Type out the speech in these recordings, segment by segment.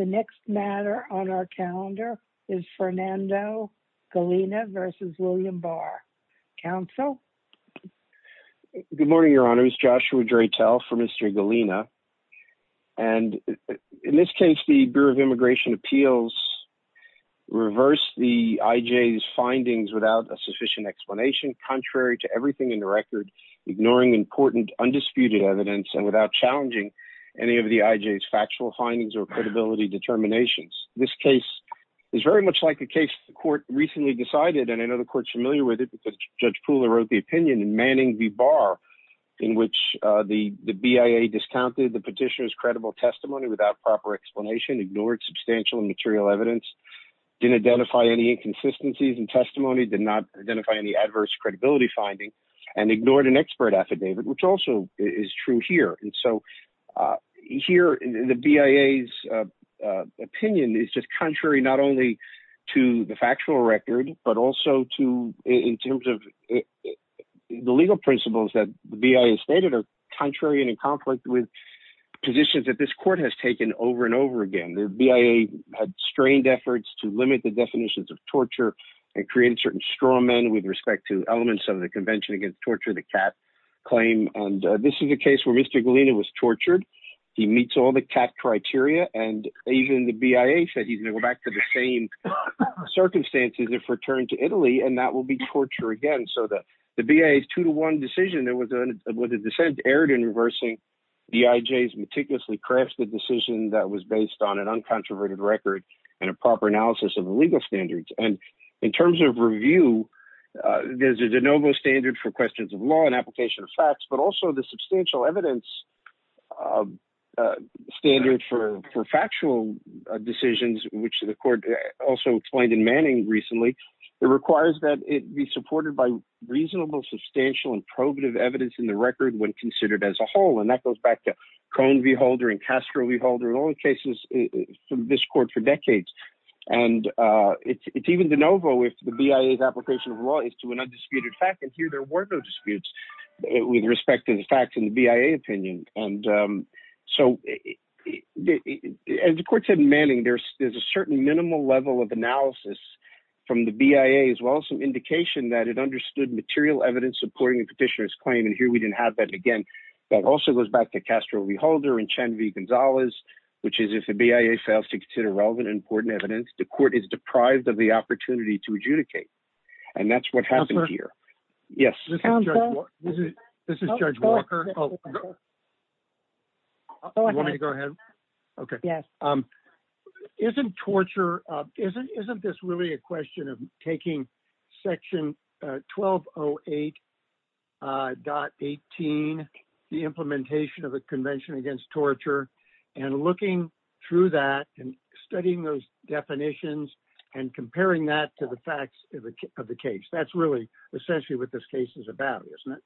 The next matter on our calendar is Fernando Galina v. William Barr. Council? Good morning, Your Honor. It's Joshua Draytel for Mr. Galina. And in this case, the Bureau of Immigration Appeals reversed the IJ's findings without a sufficient explanation, contrary to everything in the record, ignoring important undisputed evidence, and without challenging any of the IJ's factual findings or credibility determinations. This case is very much like the case the court recently decided, and I know the court's familiar with it because Judge Poole wrote the opinion in Manning v. Barr, in which the BIA discounted the petitioner's credible testimony without proper explanation, ignored substantial and material evidence, didn't identify any inconsistencies in testimony, did not identify any adverse credibility finding, and ignored an expert affidavit, which also is true here. And so here, the BIA's opinion is just contrary not only to the factual record, but also to in terms of the legal principles that the BIA stated are contrary and in conflict with positions that this court has taken over and over again. The BIA had strained efforts to limit the definitions of torture and create certain straw men with respect to elements of the Convention Against Torture of the Cat claim, and this is a case where Mr. Galina was tortured. He meets all the CAT criteria, and even the BIA said he's going to go back to the same circumstances if returned to Italy, and that will be torture again. So the BIA's two-to-one decision that was a dissent erred in reversing the IJ's meticulously crafted decision that was based on an uncontroverted record and a proper analysis of the legal standards. And in terms of review, there's a de novo standard for questions of law and application of facts, but also the substantial evidence standard for factual decisions, which the court also explained in Manning recently, it requires that it be supported by reasonable, substantial, and probative evidence in the record when considered as a whole, and that goes back to Cohn v. Holder and Castro v. Holder. In all the cases from this court for decades, and it's even de novo if the BIA's application of law is to an undisputed fact, and here there were no disputes with respect to the facts in the BIA opinion. And so, as the court said in Manning, there's a certain minimal level of analysis from the BIA as well as some indication that it understood material evidence supporting the petitioner's claim, and here we didn't have that again. That also goes back to Castro v. Holder and Chen v. Gonzalez, which is if the BIA fails to consider relevant and important evidence, the court is deprived of the opportunity to adjudicate, and that's what happened here. Yes. This is Judge Walker. Oh, you want me to go ahead? Okay. Yes. Isn't torture, isn't this really a question of taking section 1208.18, the implementation of the Convention Against Torture, and looking through that and studying those definitions and comparing that to the facts of the case? That's really essentially what this case is about, isn't it?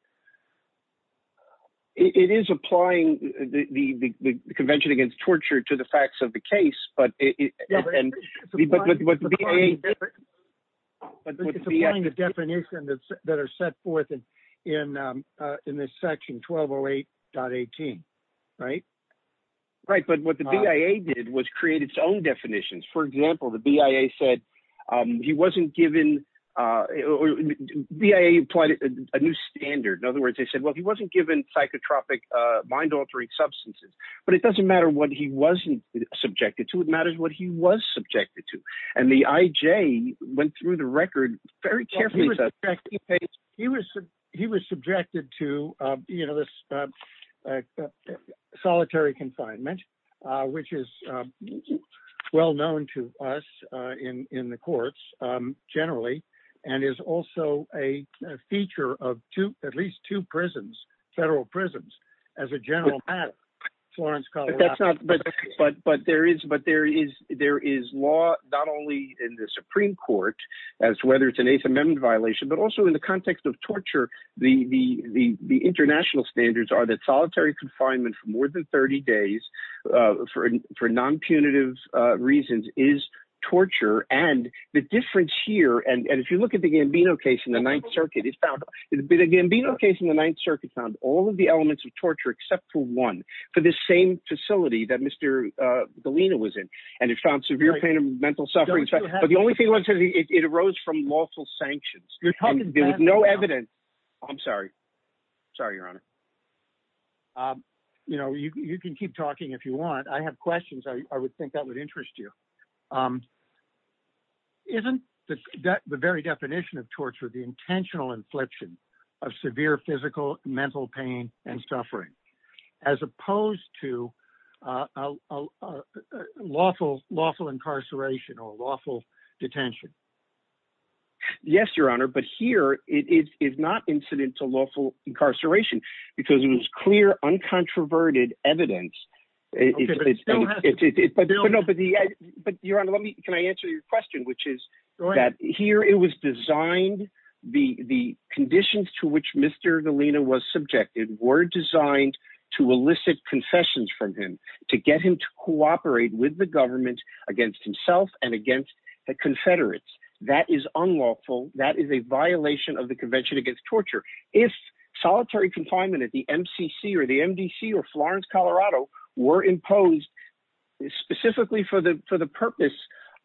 It is applying the Convention Against Torture to the facts of the case, but it's applying the definition that are set forth in this section 1208.18, right? Right, but what the BIA did was create its own definitions. For example, the BIA said he wasn't given... BIA applied a new standard. In other words, they said, he wasn't given psychotropic mind-altering substances, but it doesn't matter what he wasn't subjected to. It matters what he was subjected to, and the IJ went through the record very carefully. He was subjected to solitary confinement, which is well known to us in the federal prisons as a general matter. But there is law, not only in the Supreme Court, as to whether it's an Eighth Amendment violation, but also in the context of torture, the international standards are that solitary confinement for more than 30 days, for non-punitive reasons, is torture. And the difference here, and if you look at the Gambino Ninth Circuit, it found all of the elements of torture, except for one, for the same facility that Mr. Galina was in, and it found severe pain and mental suffering. But the only thing was it arose from lawful sanctions. There was no evidence... I'm sorry. Sorry, Your Honor. You know, you can keep talking if you want. I have questions. I would think that would interest you. Isn't the very definition of torture the intentional infliction of severe physical, mental pain, and suffering, as opposed to lawful incarceration or lawful detention? Yes, Your Honor. But here, it is not incidental lawful incarceration, because it was clear, uncontroverted evidence. But Your Honor, can I answer your question, which is that here it was designed, the conditions to which Mr. Galina was subjected were designed to elicit confessions from him, to get him to cooperate with the government against himself and against the Confederates. That is unlawful. That is a violation of the Convention Against Torture. If solitary confinement at the MCC, or the MDC, or Florence, Colorado, were imposed specifically for the purpose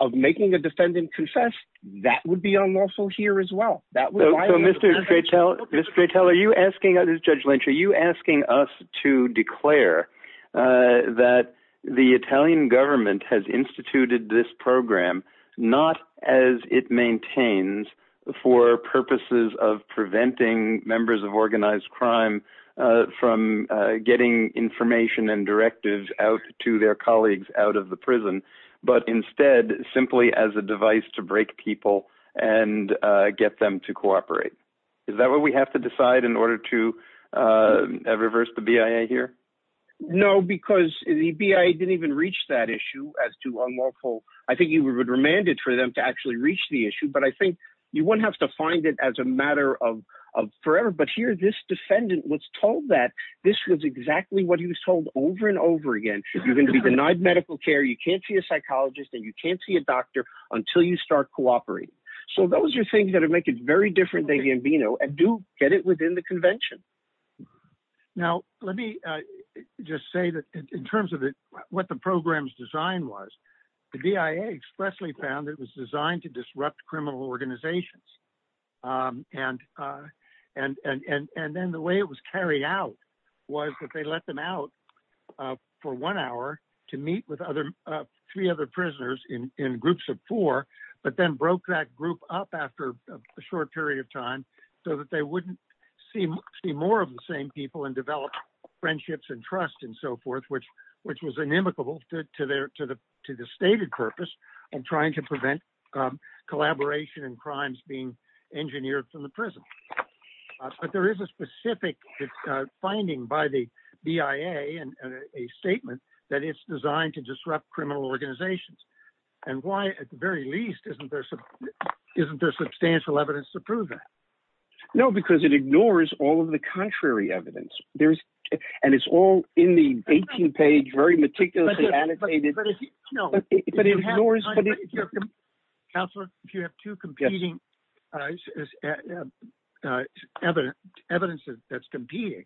of making a defendant confess, that would be unlawful here as well. Mr. Cretel, are you asking us, Judge Lynch, are you asking us to declare that the Italian members of organized crime from getting information and directives out to their colleagues out of the prison, but instead, simply as a device to break people and get them to cooperate? Is that what we have to decide in order to reverse the BIA here? No, because the BIA didn't even reach that issue as to unlawful. I think you would remand it for them to actually reach the issue, but I think you wouldn't have to find it as a matter of forever. But here, this defendant was told that this was exactly what he was told over and over again. You're going to be denied medical care, you can't see a psychologist, and you can't see a doctor until you start cooperating. So those are things that are making it very different than Gambino, and do get it within the convention. Now, let me just say that in terms of what the program's design was, the BIA expressly found it was designed to disrupt criminal organizations. And then the way it was carried out was that they let them out for one hour to meet with three other prisoners in groups of four, but then broke that group up after a short period of time so that they wouldn't see more of the same people and develop friendships and trust and so forth, which was inimicable to the stated purpose of trying to prevent collaboration and crimes being engineered from the prison. But there is a specific finding by the BIA and a statement that it's designed to disrupt criminal organizations. And why, at the very least, isn't there substantial evidence to prove that? No, because it ignores all of the contrary evidence. And it's all in the 18-page, very meticulously annotated. But if you have two competing evidence that's competing,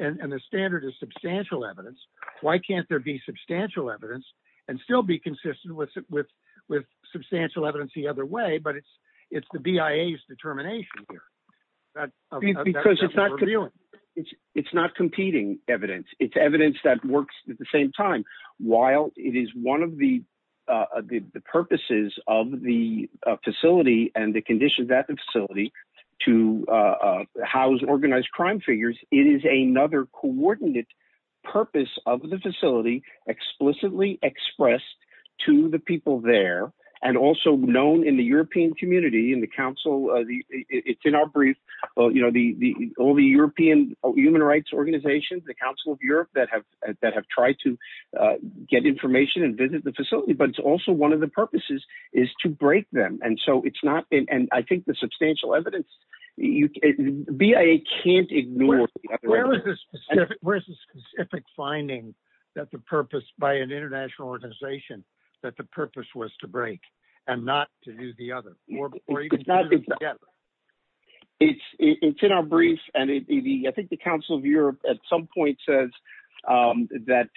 and the standard is substantial evidence, why can't there be substantial evidence and still be consistent with substantial evidence the other way? But it's the BIA's determination here. It's not competing evidence. It's evidence that works at the same time. While it is one of the purposes of the facility and the conditions at the facility to house organized crime figures, it is another coordinate purpose of the facility explicitly expressed to the people there, and also known in the European community. It's in our brief, all the European human rights organizations, the Council of Europe, that have tried to get information and visit the facility. But it's also one of the purposes is to break them. And I think the substantial evidence, BIA can't ignore the other evidence. Where's the specific finding by an international organization that the purpose was to break, and not to do the other? It's in our brief, and I think the Council of Europe at some point says that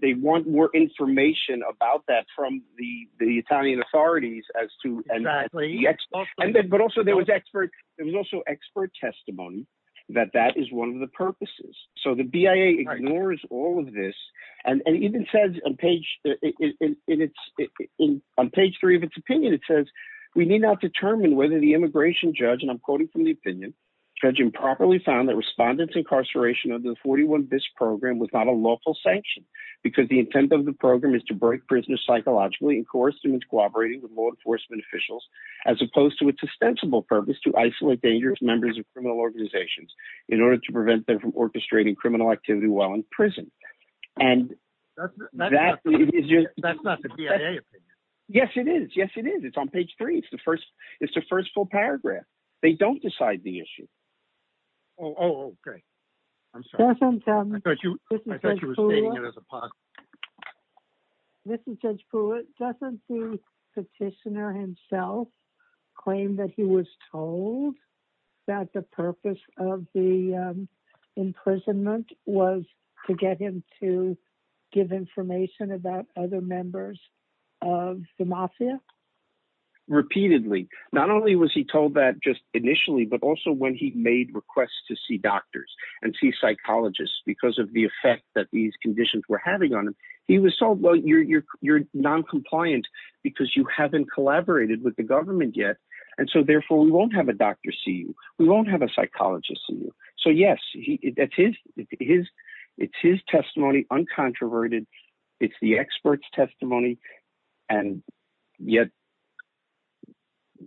they want more information about that from the Italian authorities. Exactly. But also there was expert testimony that that is one of the purposes. So the BIA ignores all of this, and even says on page three of its opinion, it says, we need not determine whether the immigration judge, and I'm quoting from the opinion, judge improperly found that respondents incarceration under the 41BIS program was not a lawful sanction, because the intent of the program is to break prisoners psychologically, and coerce them into cooperating with law enforcement officials, as opposed to its ostensible purpose to isolate dangerous members of criminal organizations in order to prevent them from orchestrating criminal activity while in prison. And that is just... That's not the BIA opinion. Yes, it is. Yes, it is. It's on page three. It's the first full paragraph. They don't decide the issue. Oh, okay. I'm sorry. I thought you were stating it as possibly. This is Judge Pruitt. Doesn't the petitioner himself claim that he was told that the purpose of the imprisonment was to get him to give information about other members of the mafia? Repeatedly. Not only was he told that just initially, but also when he made requests to doctors and see psychologists because of the effect that these conditions were having on him, he was told, well, you're non-compliant because you haven't collaborated with the government yet, and so therefore we won't have a doctor see you. We won't have a psychologist see you. So yes, it's his testimony, uncontroverted. It's the expert's testimony, and yet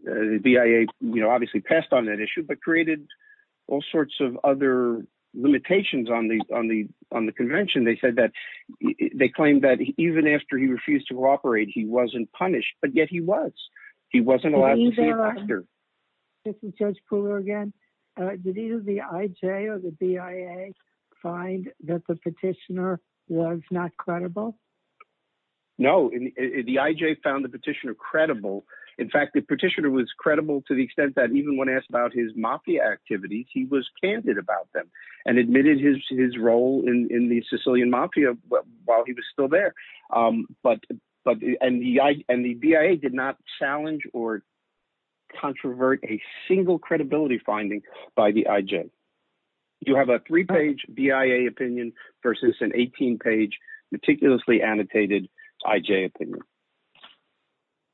the BIA obviously passed on that issue, but created all sorts of other limitations on the convention. They said that... They claimed that even after he refused to cooperate, he wasn't punished, but yet he was. He wasn't allowed to see a doctor. This is Judge Pruitt again. Did either the IJ or the BIA find that the petitioner was not credible? No. The IJ found the petitioner credible. In fact, the petitioner was credible to the extent that even when asked about his mafia activities, he was candid about them and admitted his role in the Sicilian mafia while he was still there, and the BIA did not challenge or controvert a single credibility finding by the IJ. You have a three-page BIA opinion versus an 18-page meticulously annotated IJ opinion.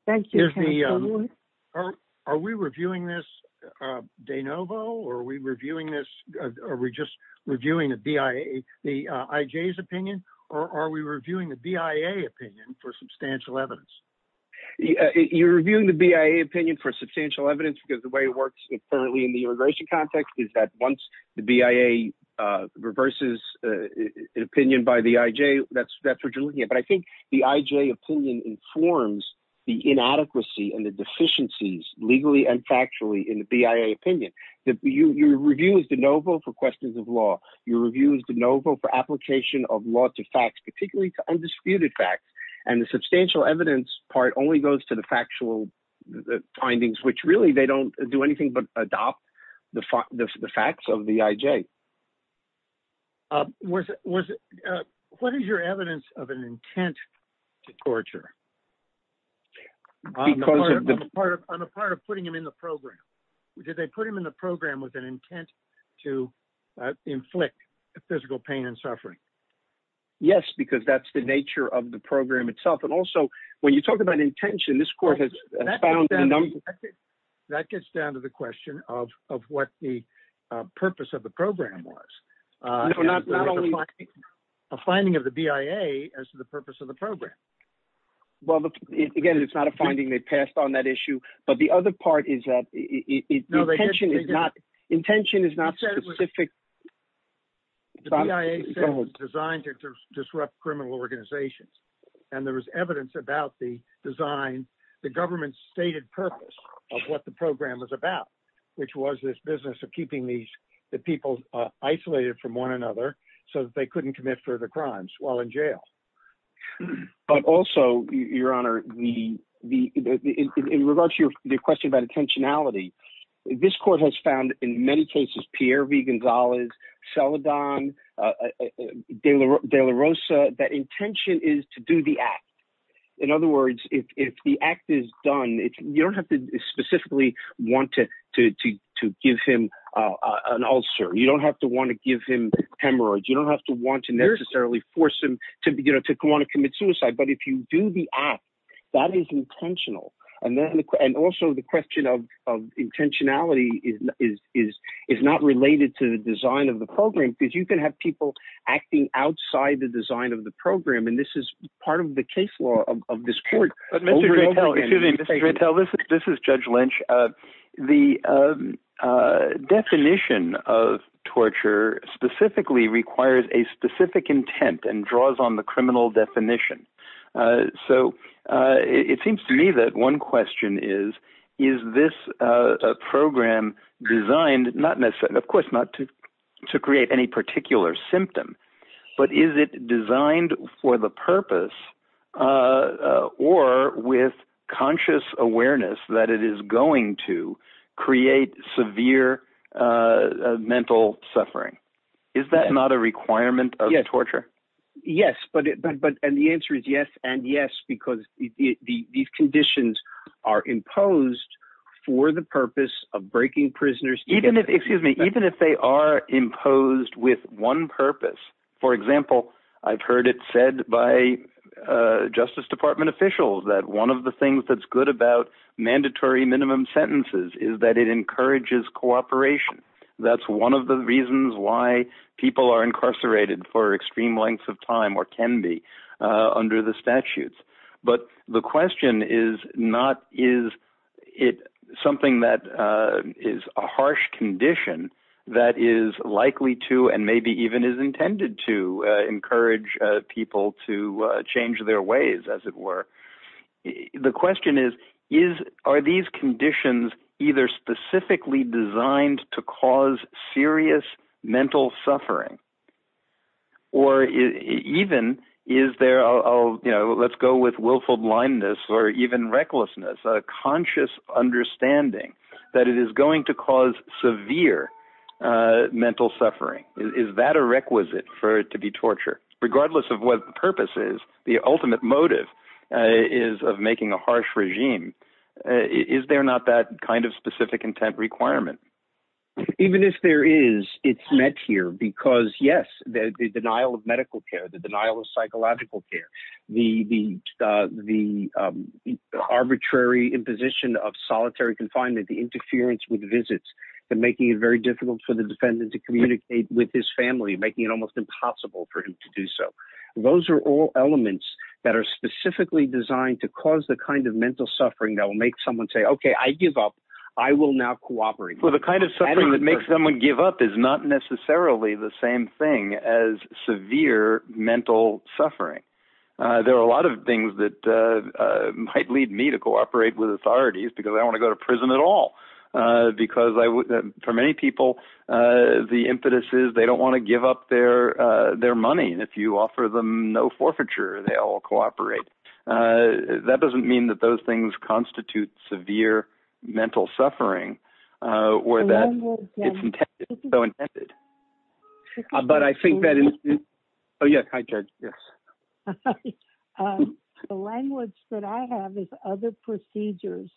Thank you. Are we reviewing this de novo, or are we just reviewing the IJ's opinion, or are we reviewing the BIA opinion for substantial evidence? You're reviewing the BIA opinion for substantial evidence because the way it works currently in the immigration context is that once the BIA reverses an opinion by the IJ, that's what you're looking at, but I think the IJ opinion informs the inadequacy and the deficiencies legally and factually in the BIA opinion. Your review is de novo for questions of law. Your review is de novo for application of law to facts, particularly to undisputed facts, and the substantial evidence part only goes to the factual findings, which really, they don't do anything but adopt the facts of the IJ. What is your evidence of an intent to torture on the part of putting him in the program? Did they put him in the program with an intent to inflict physical pain and suffering? Yes, because that's the nature of the program itself, and also, when you talk about intention, this court has found in a number of- That gets down to the question of what the purpose of the program was, a finding of the BIA as to the purpose of the program. Well, again, it's not a finding they passed on that issue, but the other part is that intention is not specific. The BIA says it was designed to disrupt criminal organizations, and there was evidence about the design, the government's stated purpose of what the program was about, which was this business of keeping the people isolated from one another so that they couldn't commit further crimes while in jail. But also, Your Honor, in regards to your question about intentionality, this court has found in many cases, Pierre V. Gonzalez, Celadon, De La Rosa, that intention is to do the act. In other words, if the act is done, you don't have to specifically want to give him an ulcer. You don't have to want to give him hemorrhoids. You don't have to want to necessarily force him to want to commit suicide, but if you do the act, that is intentional. And also, the question of intentionality is not related to the design of the program because you can have people acting outside the design of the program, and this is part of the case law of this court. But Mr. Drattel, excuse me, Mr. Drattel, this is Judge Lynch. The definition of torture specifically requires a specific intent and draws on the criminal definition. So it seems to me that one question is, is this program designed not necessarily, of course, not to create any particular symptom, but is it designed for the purpose or with conscious awareness that it is going to create severe mental suffering? Is that not a requirement of torture? Yes, and the answer is yes and yes because these conditions are imposed for the purpose of breaking prisoners. Even if, excuse me, even if they are imposed with one purpose, for example, I've heard it said by Justice Department officials that one of the things that's good about mandatory minimum sentences is that it encourages cooperation. That's one of the reasons why people are incarcerated for extreme lengths of time or can be under the statutes. But the question is not, is it something that is a harsh condition that is likely to and maybe even is intended to encourage people to change their ways, as it were. The question is, are these conditions either specifically designed to cause serious mental suffering or even is there, you know, let's go with willful blindness or even recklessness, a conscious understanding that it is going to cause severe mental suffering? Is that a requisite for it to be torture? Regardless of what the purpose is, the ultimate motive is of making a harsh regime. Is there not that kind of specific intent requirement? Even if there is, it's met here because, yes, the denial of medical care, the denial of psychological care, the arbitrary imposition of solitary confinement, the interference with visits that making it very difficult for the defendant to communicate with his family, making it almost impossible for him to do so. Those are all elements that are specifically designed to cause the kind of mental suffering that will make someone say, OK, I give up. I will now cooperate. Well, the kind of suffering that makes someone give up is not necessarily the same thing as severe mental suffering. There are a lot of things that might lead me to cooperate with authorities because I want to go to prison at all, because for many people, the impetus is they don't want to give up their money. If you offer them no forfeiture, they all cooperate. That doesn't mean that those things constitute severe mental suffering or that it's so intended. Language that I have is other procedures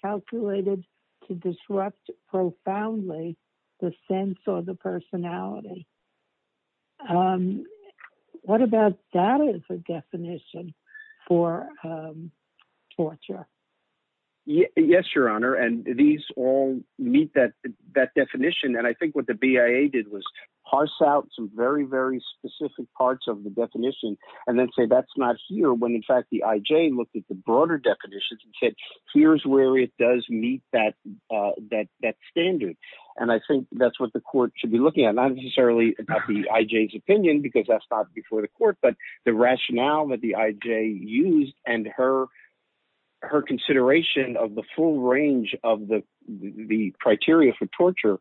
calculated to disrupt profoundly the sense of the personality. What about that as a definition for torture? Yes, Your Honor, and these all meet that definition. I think what the BIA did was parse out some very, very specific parts of the definition and then say that's not here, when in fact the IJ looked at the broader definitions and said, here's where it does meet that standard. I think that's what the court should be looking at, not necessarily about the IJ's opinion, because that's not before the court, but the rationale that the IJ used and her consideration of the full range of the criteria for torture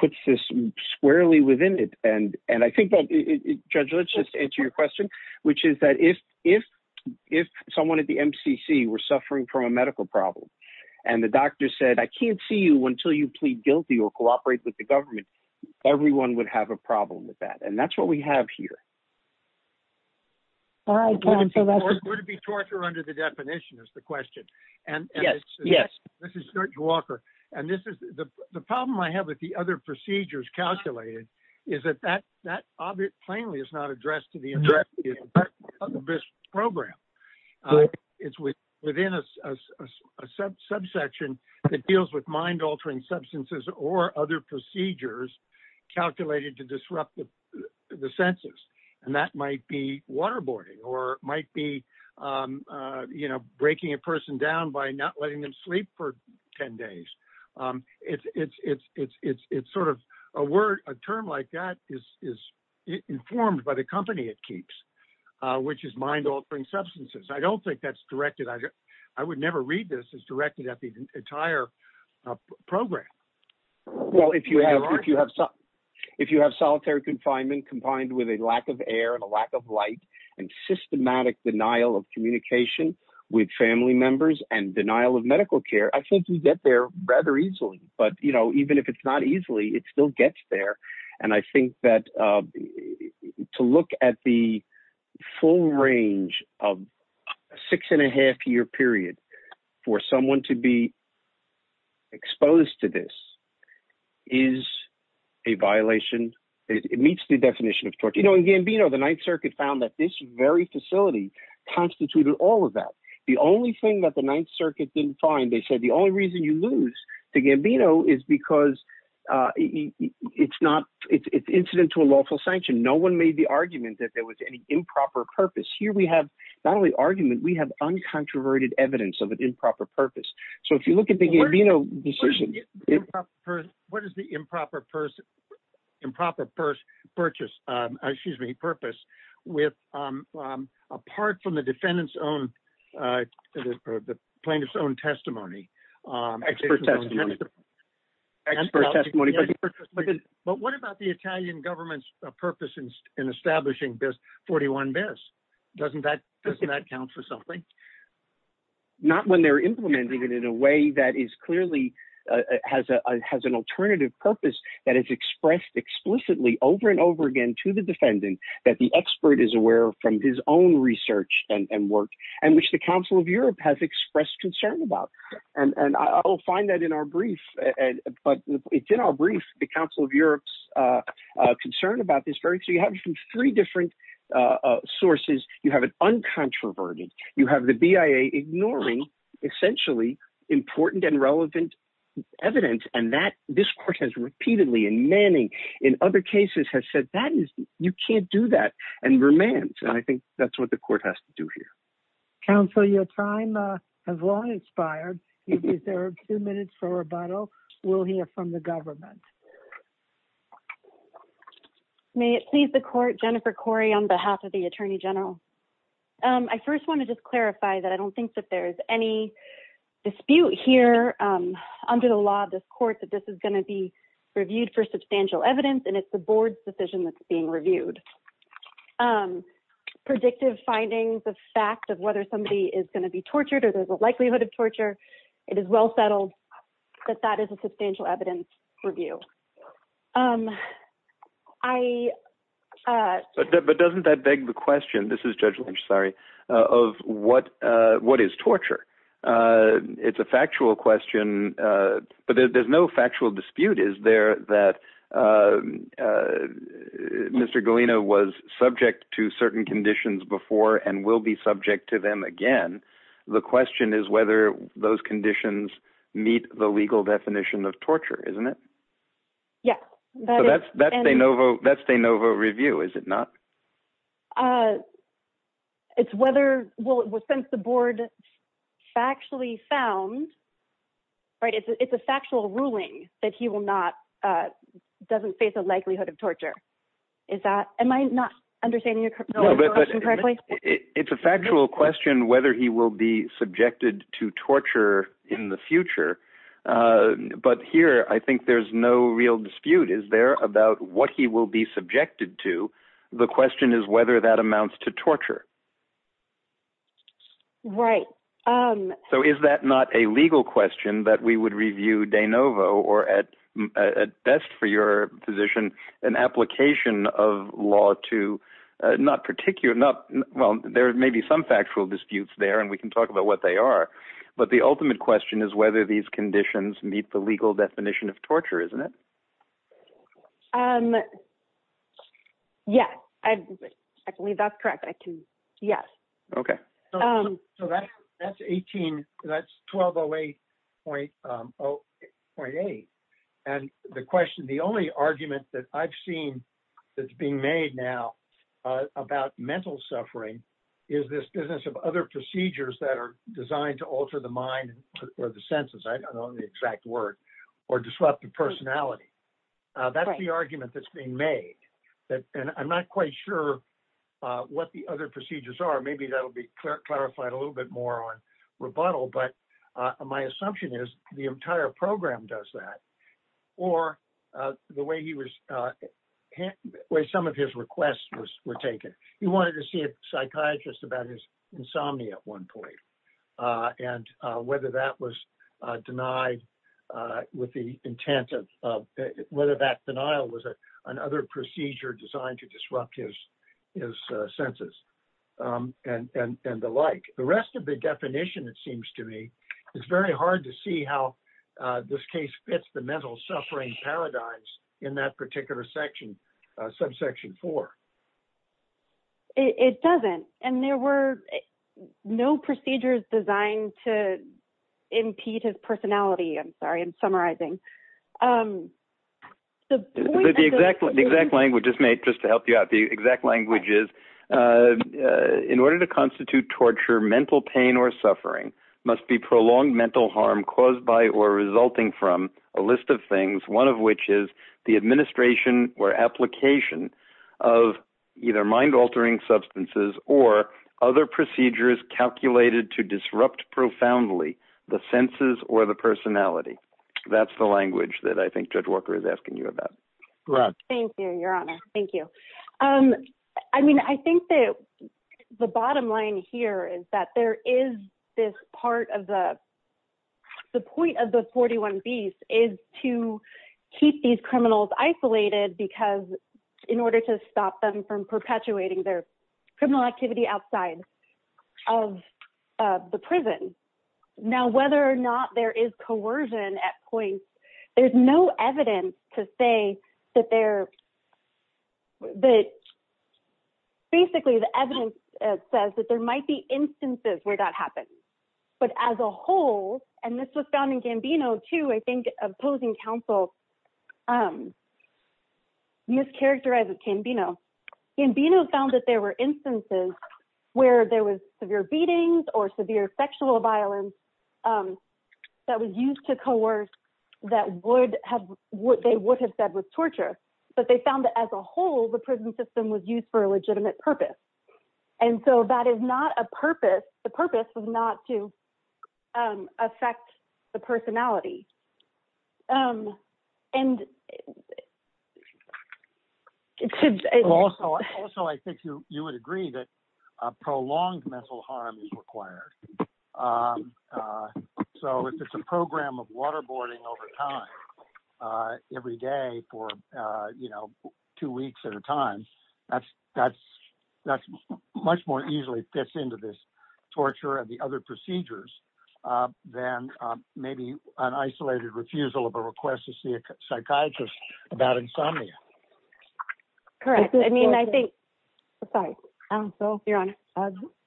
puts this squarely within it. Judge, let's just answer your question, which is that if someone at the MCC were suffering from medical problems, and the doctor said, I can't see you until you plead guilty or cooperate with the government, everyone would have a problem with that. That's what we have here. Would it be torture under the definition is the question? Yes. This is George Walker. The problem I have with the other procedures calculated is that that plainly is not addressed to the end of this program. It's within a subsection that deals with mind-altering substances or other procedures calculated to disrupt the census, and that might be waterboarding or it might be breaking a person down by not letting them sleep for 10 days. A term like that is informed by the company it keeps, which is mind-altering substances. I don't think that's directed. I would never read this as directed at the entire program. Well, if you have solitary confinement combined with a lack of air and a lack of light and systematic denial of communication with family members and denial of medical care, I think you get there rather easily. Even if it's not easily, it still gets there. To look at the full range of a six-and-a-half-year period for someone to be exposed to this is a violation. It meets the definition of torture. In Gambino, the Ninth Circuit found that this very facility constituted all of that. The only thing that the Ninth Circuit didn't find, they said, the only reason you lose to Gambino is because it's incident to a lawful sanction. No one made the argument that there was any improper purpose. Here we have not only argument, we have uncontroverted evidence of an improper purpose. So if you look at the Gambino decision... What is the improper purpose apart from the plaintiff's own testimony? But what about the Italian government's purpose in establishing this 41-BIS? Doesn't that count for something? Not when they're implementing it in a way that clearly has an alternative purpose, that is expressed explicitly over and over again to the defendant, that the expert is aware from his own research and work, and which the Council of Europe has expressed concern about. I'll find that in our brief. But it's in our brief, the Council of Europe's concern about this. So you have from three different sources, you have an uncontroverted, you have the BIA ignoring essentially important and relevant evidence, and this court has repeatedly, in Manning, in other cases, has said, you can't do that, and remands. And I think that's what the court has to do here. Counsel, your time has long expired. You deserve two minutes for rebuttal. We'll hear from the government. May it please the court, Jennifer Corey, on behalf of the Attorney General. I first want to just clarify that I don't think that there's any dispute here under the law of this court that this is going to be reviewed for substantial evidence, and it's the board's decision that's being reviewed. Predictive findings, the fact of whether somebody is going to be tortured, or there's a likelihood of torture, it is well settled that that is a review. But doesn't that beg the question, this is Judge Lynch, sorry, of what is torture? It's a factual question, but there's no factual dispute, is there, that Mr. Galeno was subject to certain conditions before and will be subject to them again. The question is whether those of torture, isn't it? Yes. So that's de novo review, is it not? It's whether, well, since the board factually found, right, it's a factual ruling that he will not, doesn't face a likelihood of torture. Am I not understanding your question correctly? It's a factual question whether he will be subjected to torture in the future. But here, I think there's no real dispute, is there, about what he will be subjected to. The question is whether that amounts to torture. Right. So is that not a legal question that we would review de novo, or at best for your position, an application of law to not particular, well, there may be some factual disputes there, and we can talk about what they are. But the ultimate question is whether these conditions meet the legal definition of torture, isn't it? Yeah, I believe that's correct. I can, yes. Okay. So that's 1208.8. And the question, the only argument that I've seen that's being made now about mental suffering is this business of other procedures that are designed to alter the mind or the senses, I don't know the exact word, or disrupt the personality. That's the argument that's being made. And I'm not quite sure what the other procedures are. Maybe that'll be clarified a little bit more on rebuttal. But my assumption is the entire program does that. Or the way he was, the way some of his requests were taken. He wanted to see a psychiatrist about his insomnia at one point, and whether that was denied with the intent of whether that denial was another procedure designed to disrupt his senses and the like. The rest of the definition, it seems to me, it's very hard to see how this case fits the mental suffering paradigms in that particular subsection four. It doesn't. And there were no procedures designed to impede his personality. I'm sorry, I'm summarizing. The exact language is made, just to help you out, the exact language is, in order to constitute torture, mental pain or suffering must be prolonged mental harm caused or resulting from a list of things, one of which is the administration or application of either mind altering substances or other procedures calculated to disrupt profoundly the senses or the personality. That's the language that I think Judge Walker is asking you about. Thank you, your honor. Thank you. I mean, I think that the bottom line here is that there is this part of the, the point of the 41 beast is to keep these criminals isolated because in order to stop them from perpetuating their criminal activity outside of the prison. Now, whether or not there is coercion at points, there's no evidence to say that they're, that basically the evidence says that there might be instances where that happens, but as a whole, and this was found in Gambino too, I think opposing counsel mischaracterized with Gambino. Gambino found that there were instances where there was severe beatings or severe sexual violence that was used to coerce that would have, what they would have said was torture, but they found that as a whole, the prison system was used for a legitimate purpose. And so that is not a purpose. The purpose was not to affect the personality. I think you would agree that a prolonged mental harm is required. Um, uh, so if it's a program of waterboarding over time, uh, every day for, uh, you know, two weeks at a time, that's, that's, that's much more easily fits into this torture and the other procedures, uh, then, um, maybe an isolated refusal of a request to see a psychiatrist about insomnia. Correct. I mean, I think, I'm sorry, you're on.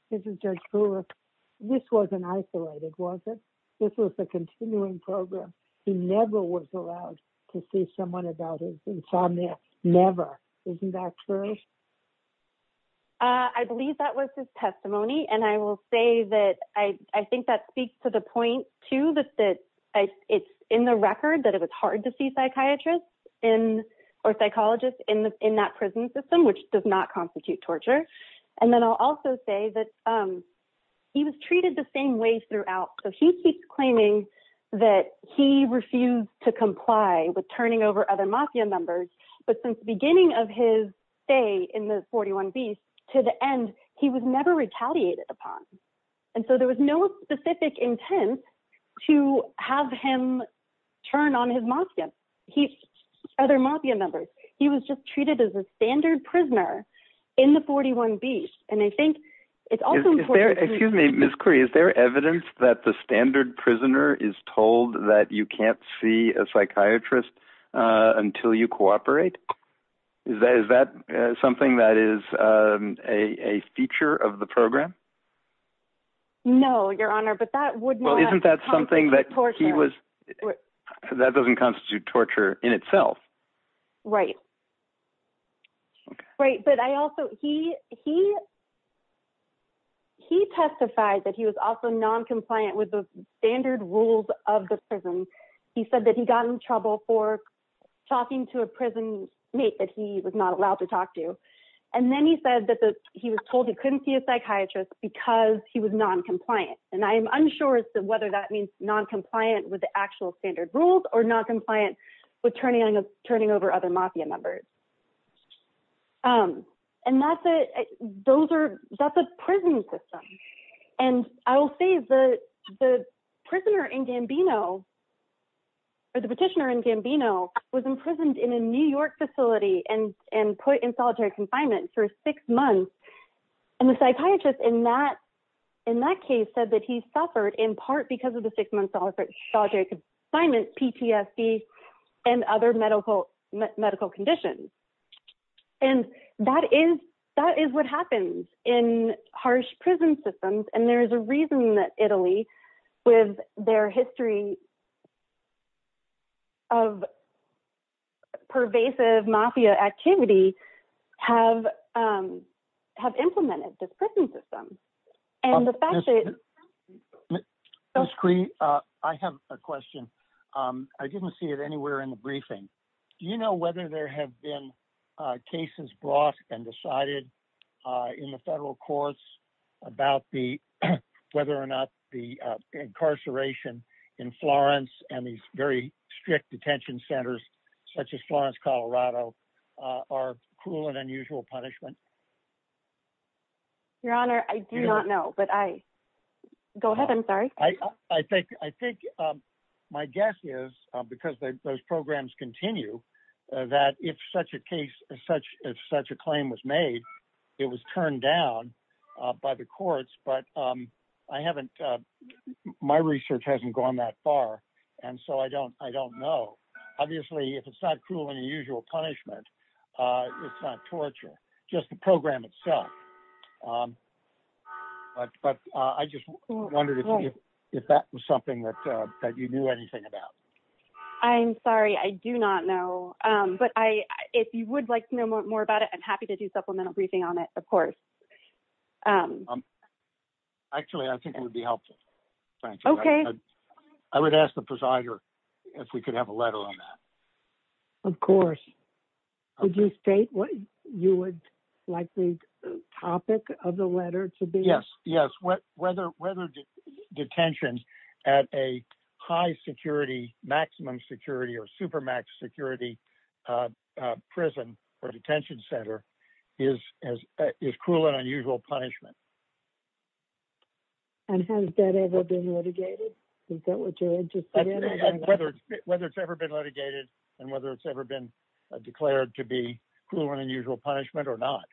This was an isolated, wasn't this was a continuing program. He never was allowed to see someone about his insomnia. Never. Isn't that true? Uh, I believe that was his testimony. And I will say that I, I think that speaks to the point too, that, that it's in the record that it was hard to see psychiatrists in or psychologists in the, in that prison system, which does not constitute torture. And then I'll also say that, um, he was treated the same way throughout. So he keeps claiming that he refused to comply with turning over other mafia members. But since the beginning of his day in the 41 beast to the end, he was never retaliated upon. And so there was no specific intent to have him turn on his mafia. He's other mafia members. He was just treated as a standard prisoner in the 41 beast. And I think it's also important. Excuse me, Ms. Curry, is there evidence that the standard prisoner is told that you can't see a psychiatrist, uh, until you cooperate? Is that, is that something that is, um, a feature of the program? No, your honor, but that wouldn't, that's something that he was, that doesn't constitute torture in itself. Right. Right. But I also, he, he, he testified that he was also non-compliant with the standard rules of the prison. He said that he got in trouble for talking to a prison mate that he was not allowed to talk to. And then he said that he was told he couldn't see a psychiatrist because he was non-compliant. And I am unsure as to whether that means non-compliant with the actual standard rules or not compliant with turning on, turning over other mafia members. Um, and that's it. Those are, that's a prison system. And I will say the, the prisoner in Gambino or the petitioner in Gambino was imprisoned in a New York facility and, and put in solitary confinement for six months. And the psychiatrist in that, in that case said that he suffered in part because of the six months solitary confinement, PTSD and other medical medical conditions. And that is, that is what happens in harsh prison systems. And there's a reason that Italy with their history of pervasive mafia activity have, um, have implemented this prison system. And the fact that I have a question. Um, I didn't see it anywhere in the briefing. Do you know whether there have been, uh, cases brought and decided, uh, in the federal courts about the, whether or not the, uh, incarceration in Florence and these very strict detention centers such as Florence, Colorado, uh, are cruel and unusual punishment. Your Honor, I do not know, but I go ahead. I'm sorry. I think, I think, um, my guess is because those programs continue, uh, that if such a case is such, if such a claim was made, it was turned down, uh, by the courts. But, um, I haven't, uh, my research hasn't gone that far. And so I don't, I don't know, obviously if it's not cruel and unusual punishment, uh, it's not torture just the program itself. Um, but, but, uh, I just wondered if, if that was something that, uh, that you knew anything about, I'm sorry, I do not know. Um, but I, if you would like to know more about it, I'm happy to do supplemental briefing on it. Of course. Um, actually I think it would be helpful. Okay. I would ask the presider if we could have a letter on that. Of course. Would you state what you would like the topic of the letter to be? Yes. Yes. What, whether, whether detention at a high security, maximum security or super max security, uh, uh, prison or detention center is, is, is cruel and unusual punishment. And has that ever been litigated? Is that what you're interested in? Whether, whether it's ever been litigated and whether it's ever been declared to be cruel and unusual punishment or not.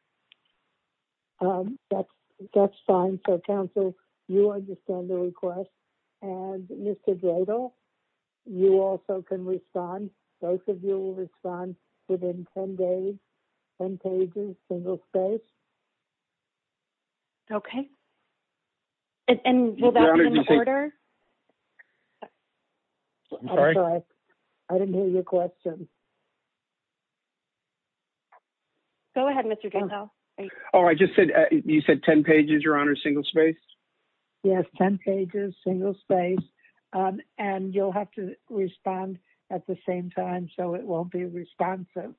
Um, that's, that's fine. So council, you understand the request and Mr. Gradle, you also can respond. Both of you will respond within 10 days, 10 pages, single space. Okay. And will that be in order? I'm sorry. I didn't hear your question. Go ahead, Mr. Oh, I just said you said 10 pages, your honor, single space. Yes. 10 pages, single space. Um, and you'll have to respond at the same time. So it won't be responsive,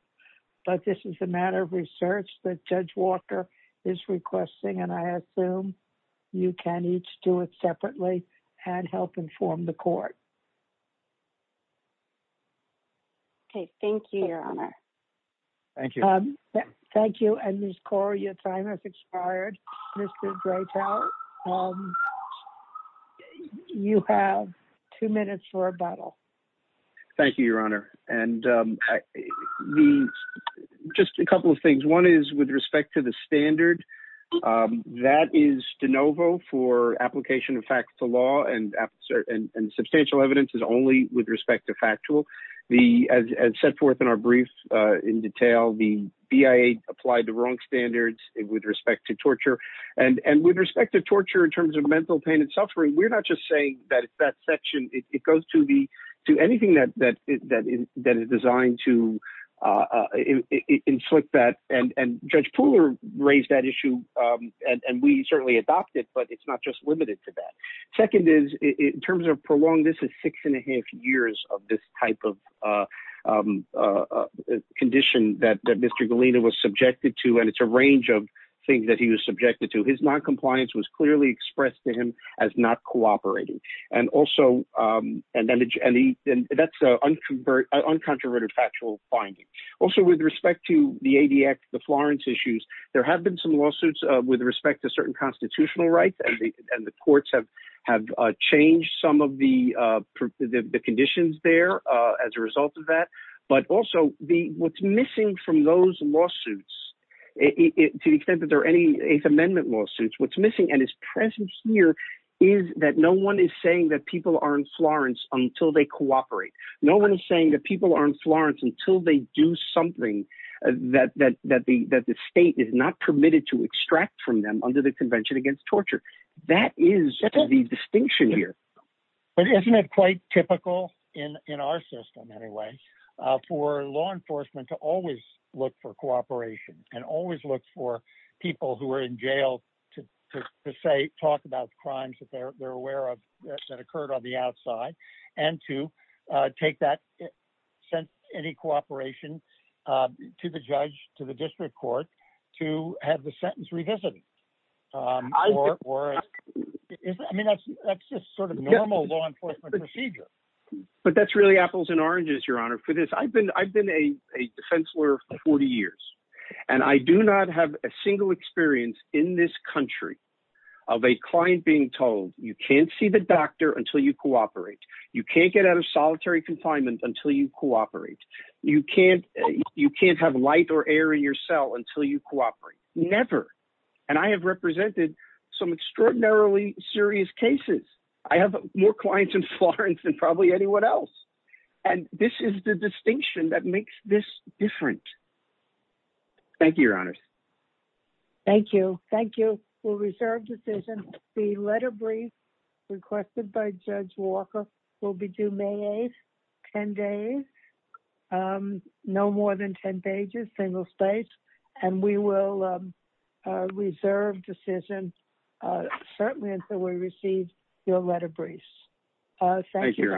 but this is a matter of research that judge Walker is requesting. And I assume you can each do it separately and help inform the court. Okay. Thank you, your honor. Thank you. Thank you. And this core, your time has expired. You have two minutes for a bottle. Thank you, your honor. And, um, with respect to the standard, um, that is DeNovo for application of facts to law and substantial evidence is only with respect to factual the, as set forth in our brief, uh, in detail, the BIA applied the wrong standards with respect to torture and, and with respect to torture in terms of mental pain and suffering, we're not just saying that that section, it goes to anything that, that, that is designed to, uh, uh, inflict that and, and judge Pooler raised that issue. Um, and, and we certainly adopted, but it's not just limited to that. Second is in terms of prolonged, this is six and a half years of this type of, uh, um, uh, condition that Mr. Galina was subjected to. And it's a range of things that he was subjected to. His non-compliance was clearly expressed to him as not cooperating. And also, um, and then, and he, and that's, uh, uncontroverted factual finding also with respect to the ADX, the Florence issues, there have been some lawsuits, uh, with respect to certain constitutional rights and the courts have, have, uh, changed some of the, uh, the conditions there, uh, as a result of that. But also the what's missing from those lawsuits to the extent that there are any eighth amendment lawsuits, what's missing and is present here is that no one is saying that people are in Florence until they cooperate. No one is saying that people are in Florence until they do something that, that, that the, that the state is not permitted to extract from them under the convention against torture. That is the distinction here. But isn't it quite typical in, in our system anyway, uh, for law enforcement to always look for cooperation and always look for people who are in jail to, to say, talk about crimes that they're aware of that occurred on the outside and to, uh, take that sense, any cooperation, uh, to the judge, to the district court, to have the sentence revisited. Um, or, or, I mean, that's just sort of normal law enforcement procedure, but that's really apples and oranges, your honor for this. I've been, I've been a defense lawyer for 40 years, and I do not have a single experience in this country of a client being told you can't see the doctor until you cooperate. You can't get out of solitary confinement until you cooperate. You can't, you can't have light or air in your cell until you cooperate. Never. And I have represented some extraordinarily serious cases. I have more clients in Florence than probably anyone else. And this is the distinction that makes this different. Thank you, your honors. Thank you. Thank you. We'll reserve decision. The letter brief requested by judge Walker will be due May 8th, 10 days. Um, no more than 10 pages, single space, and we will, um, uh, reserve decision, uh, certainly until we received your letter briefs.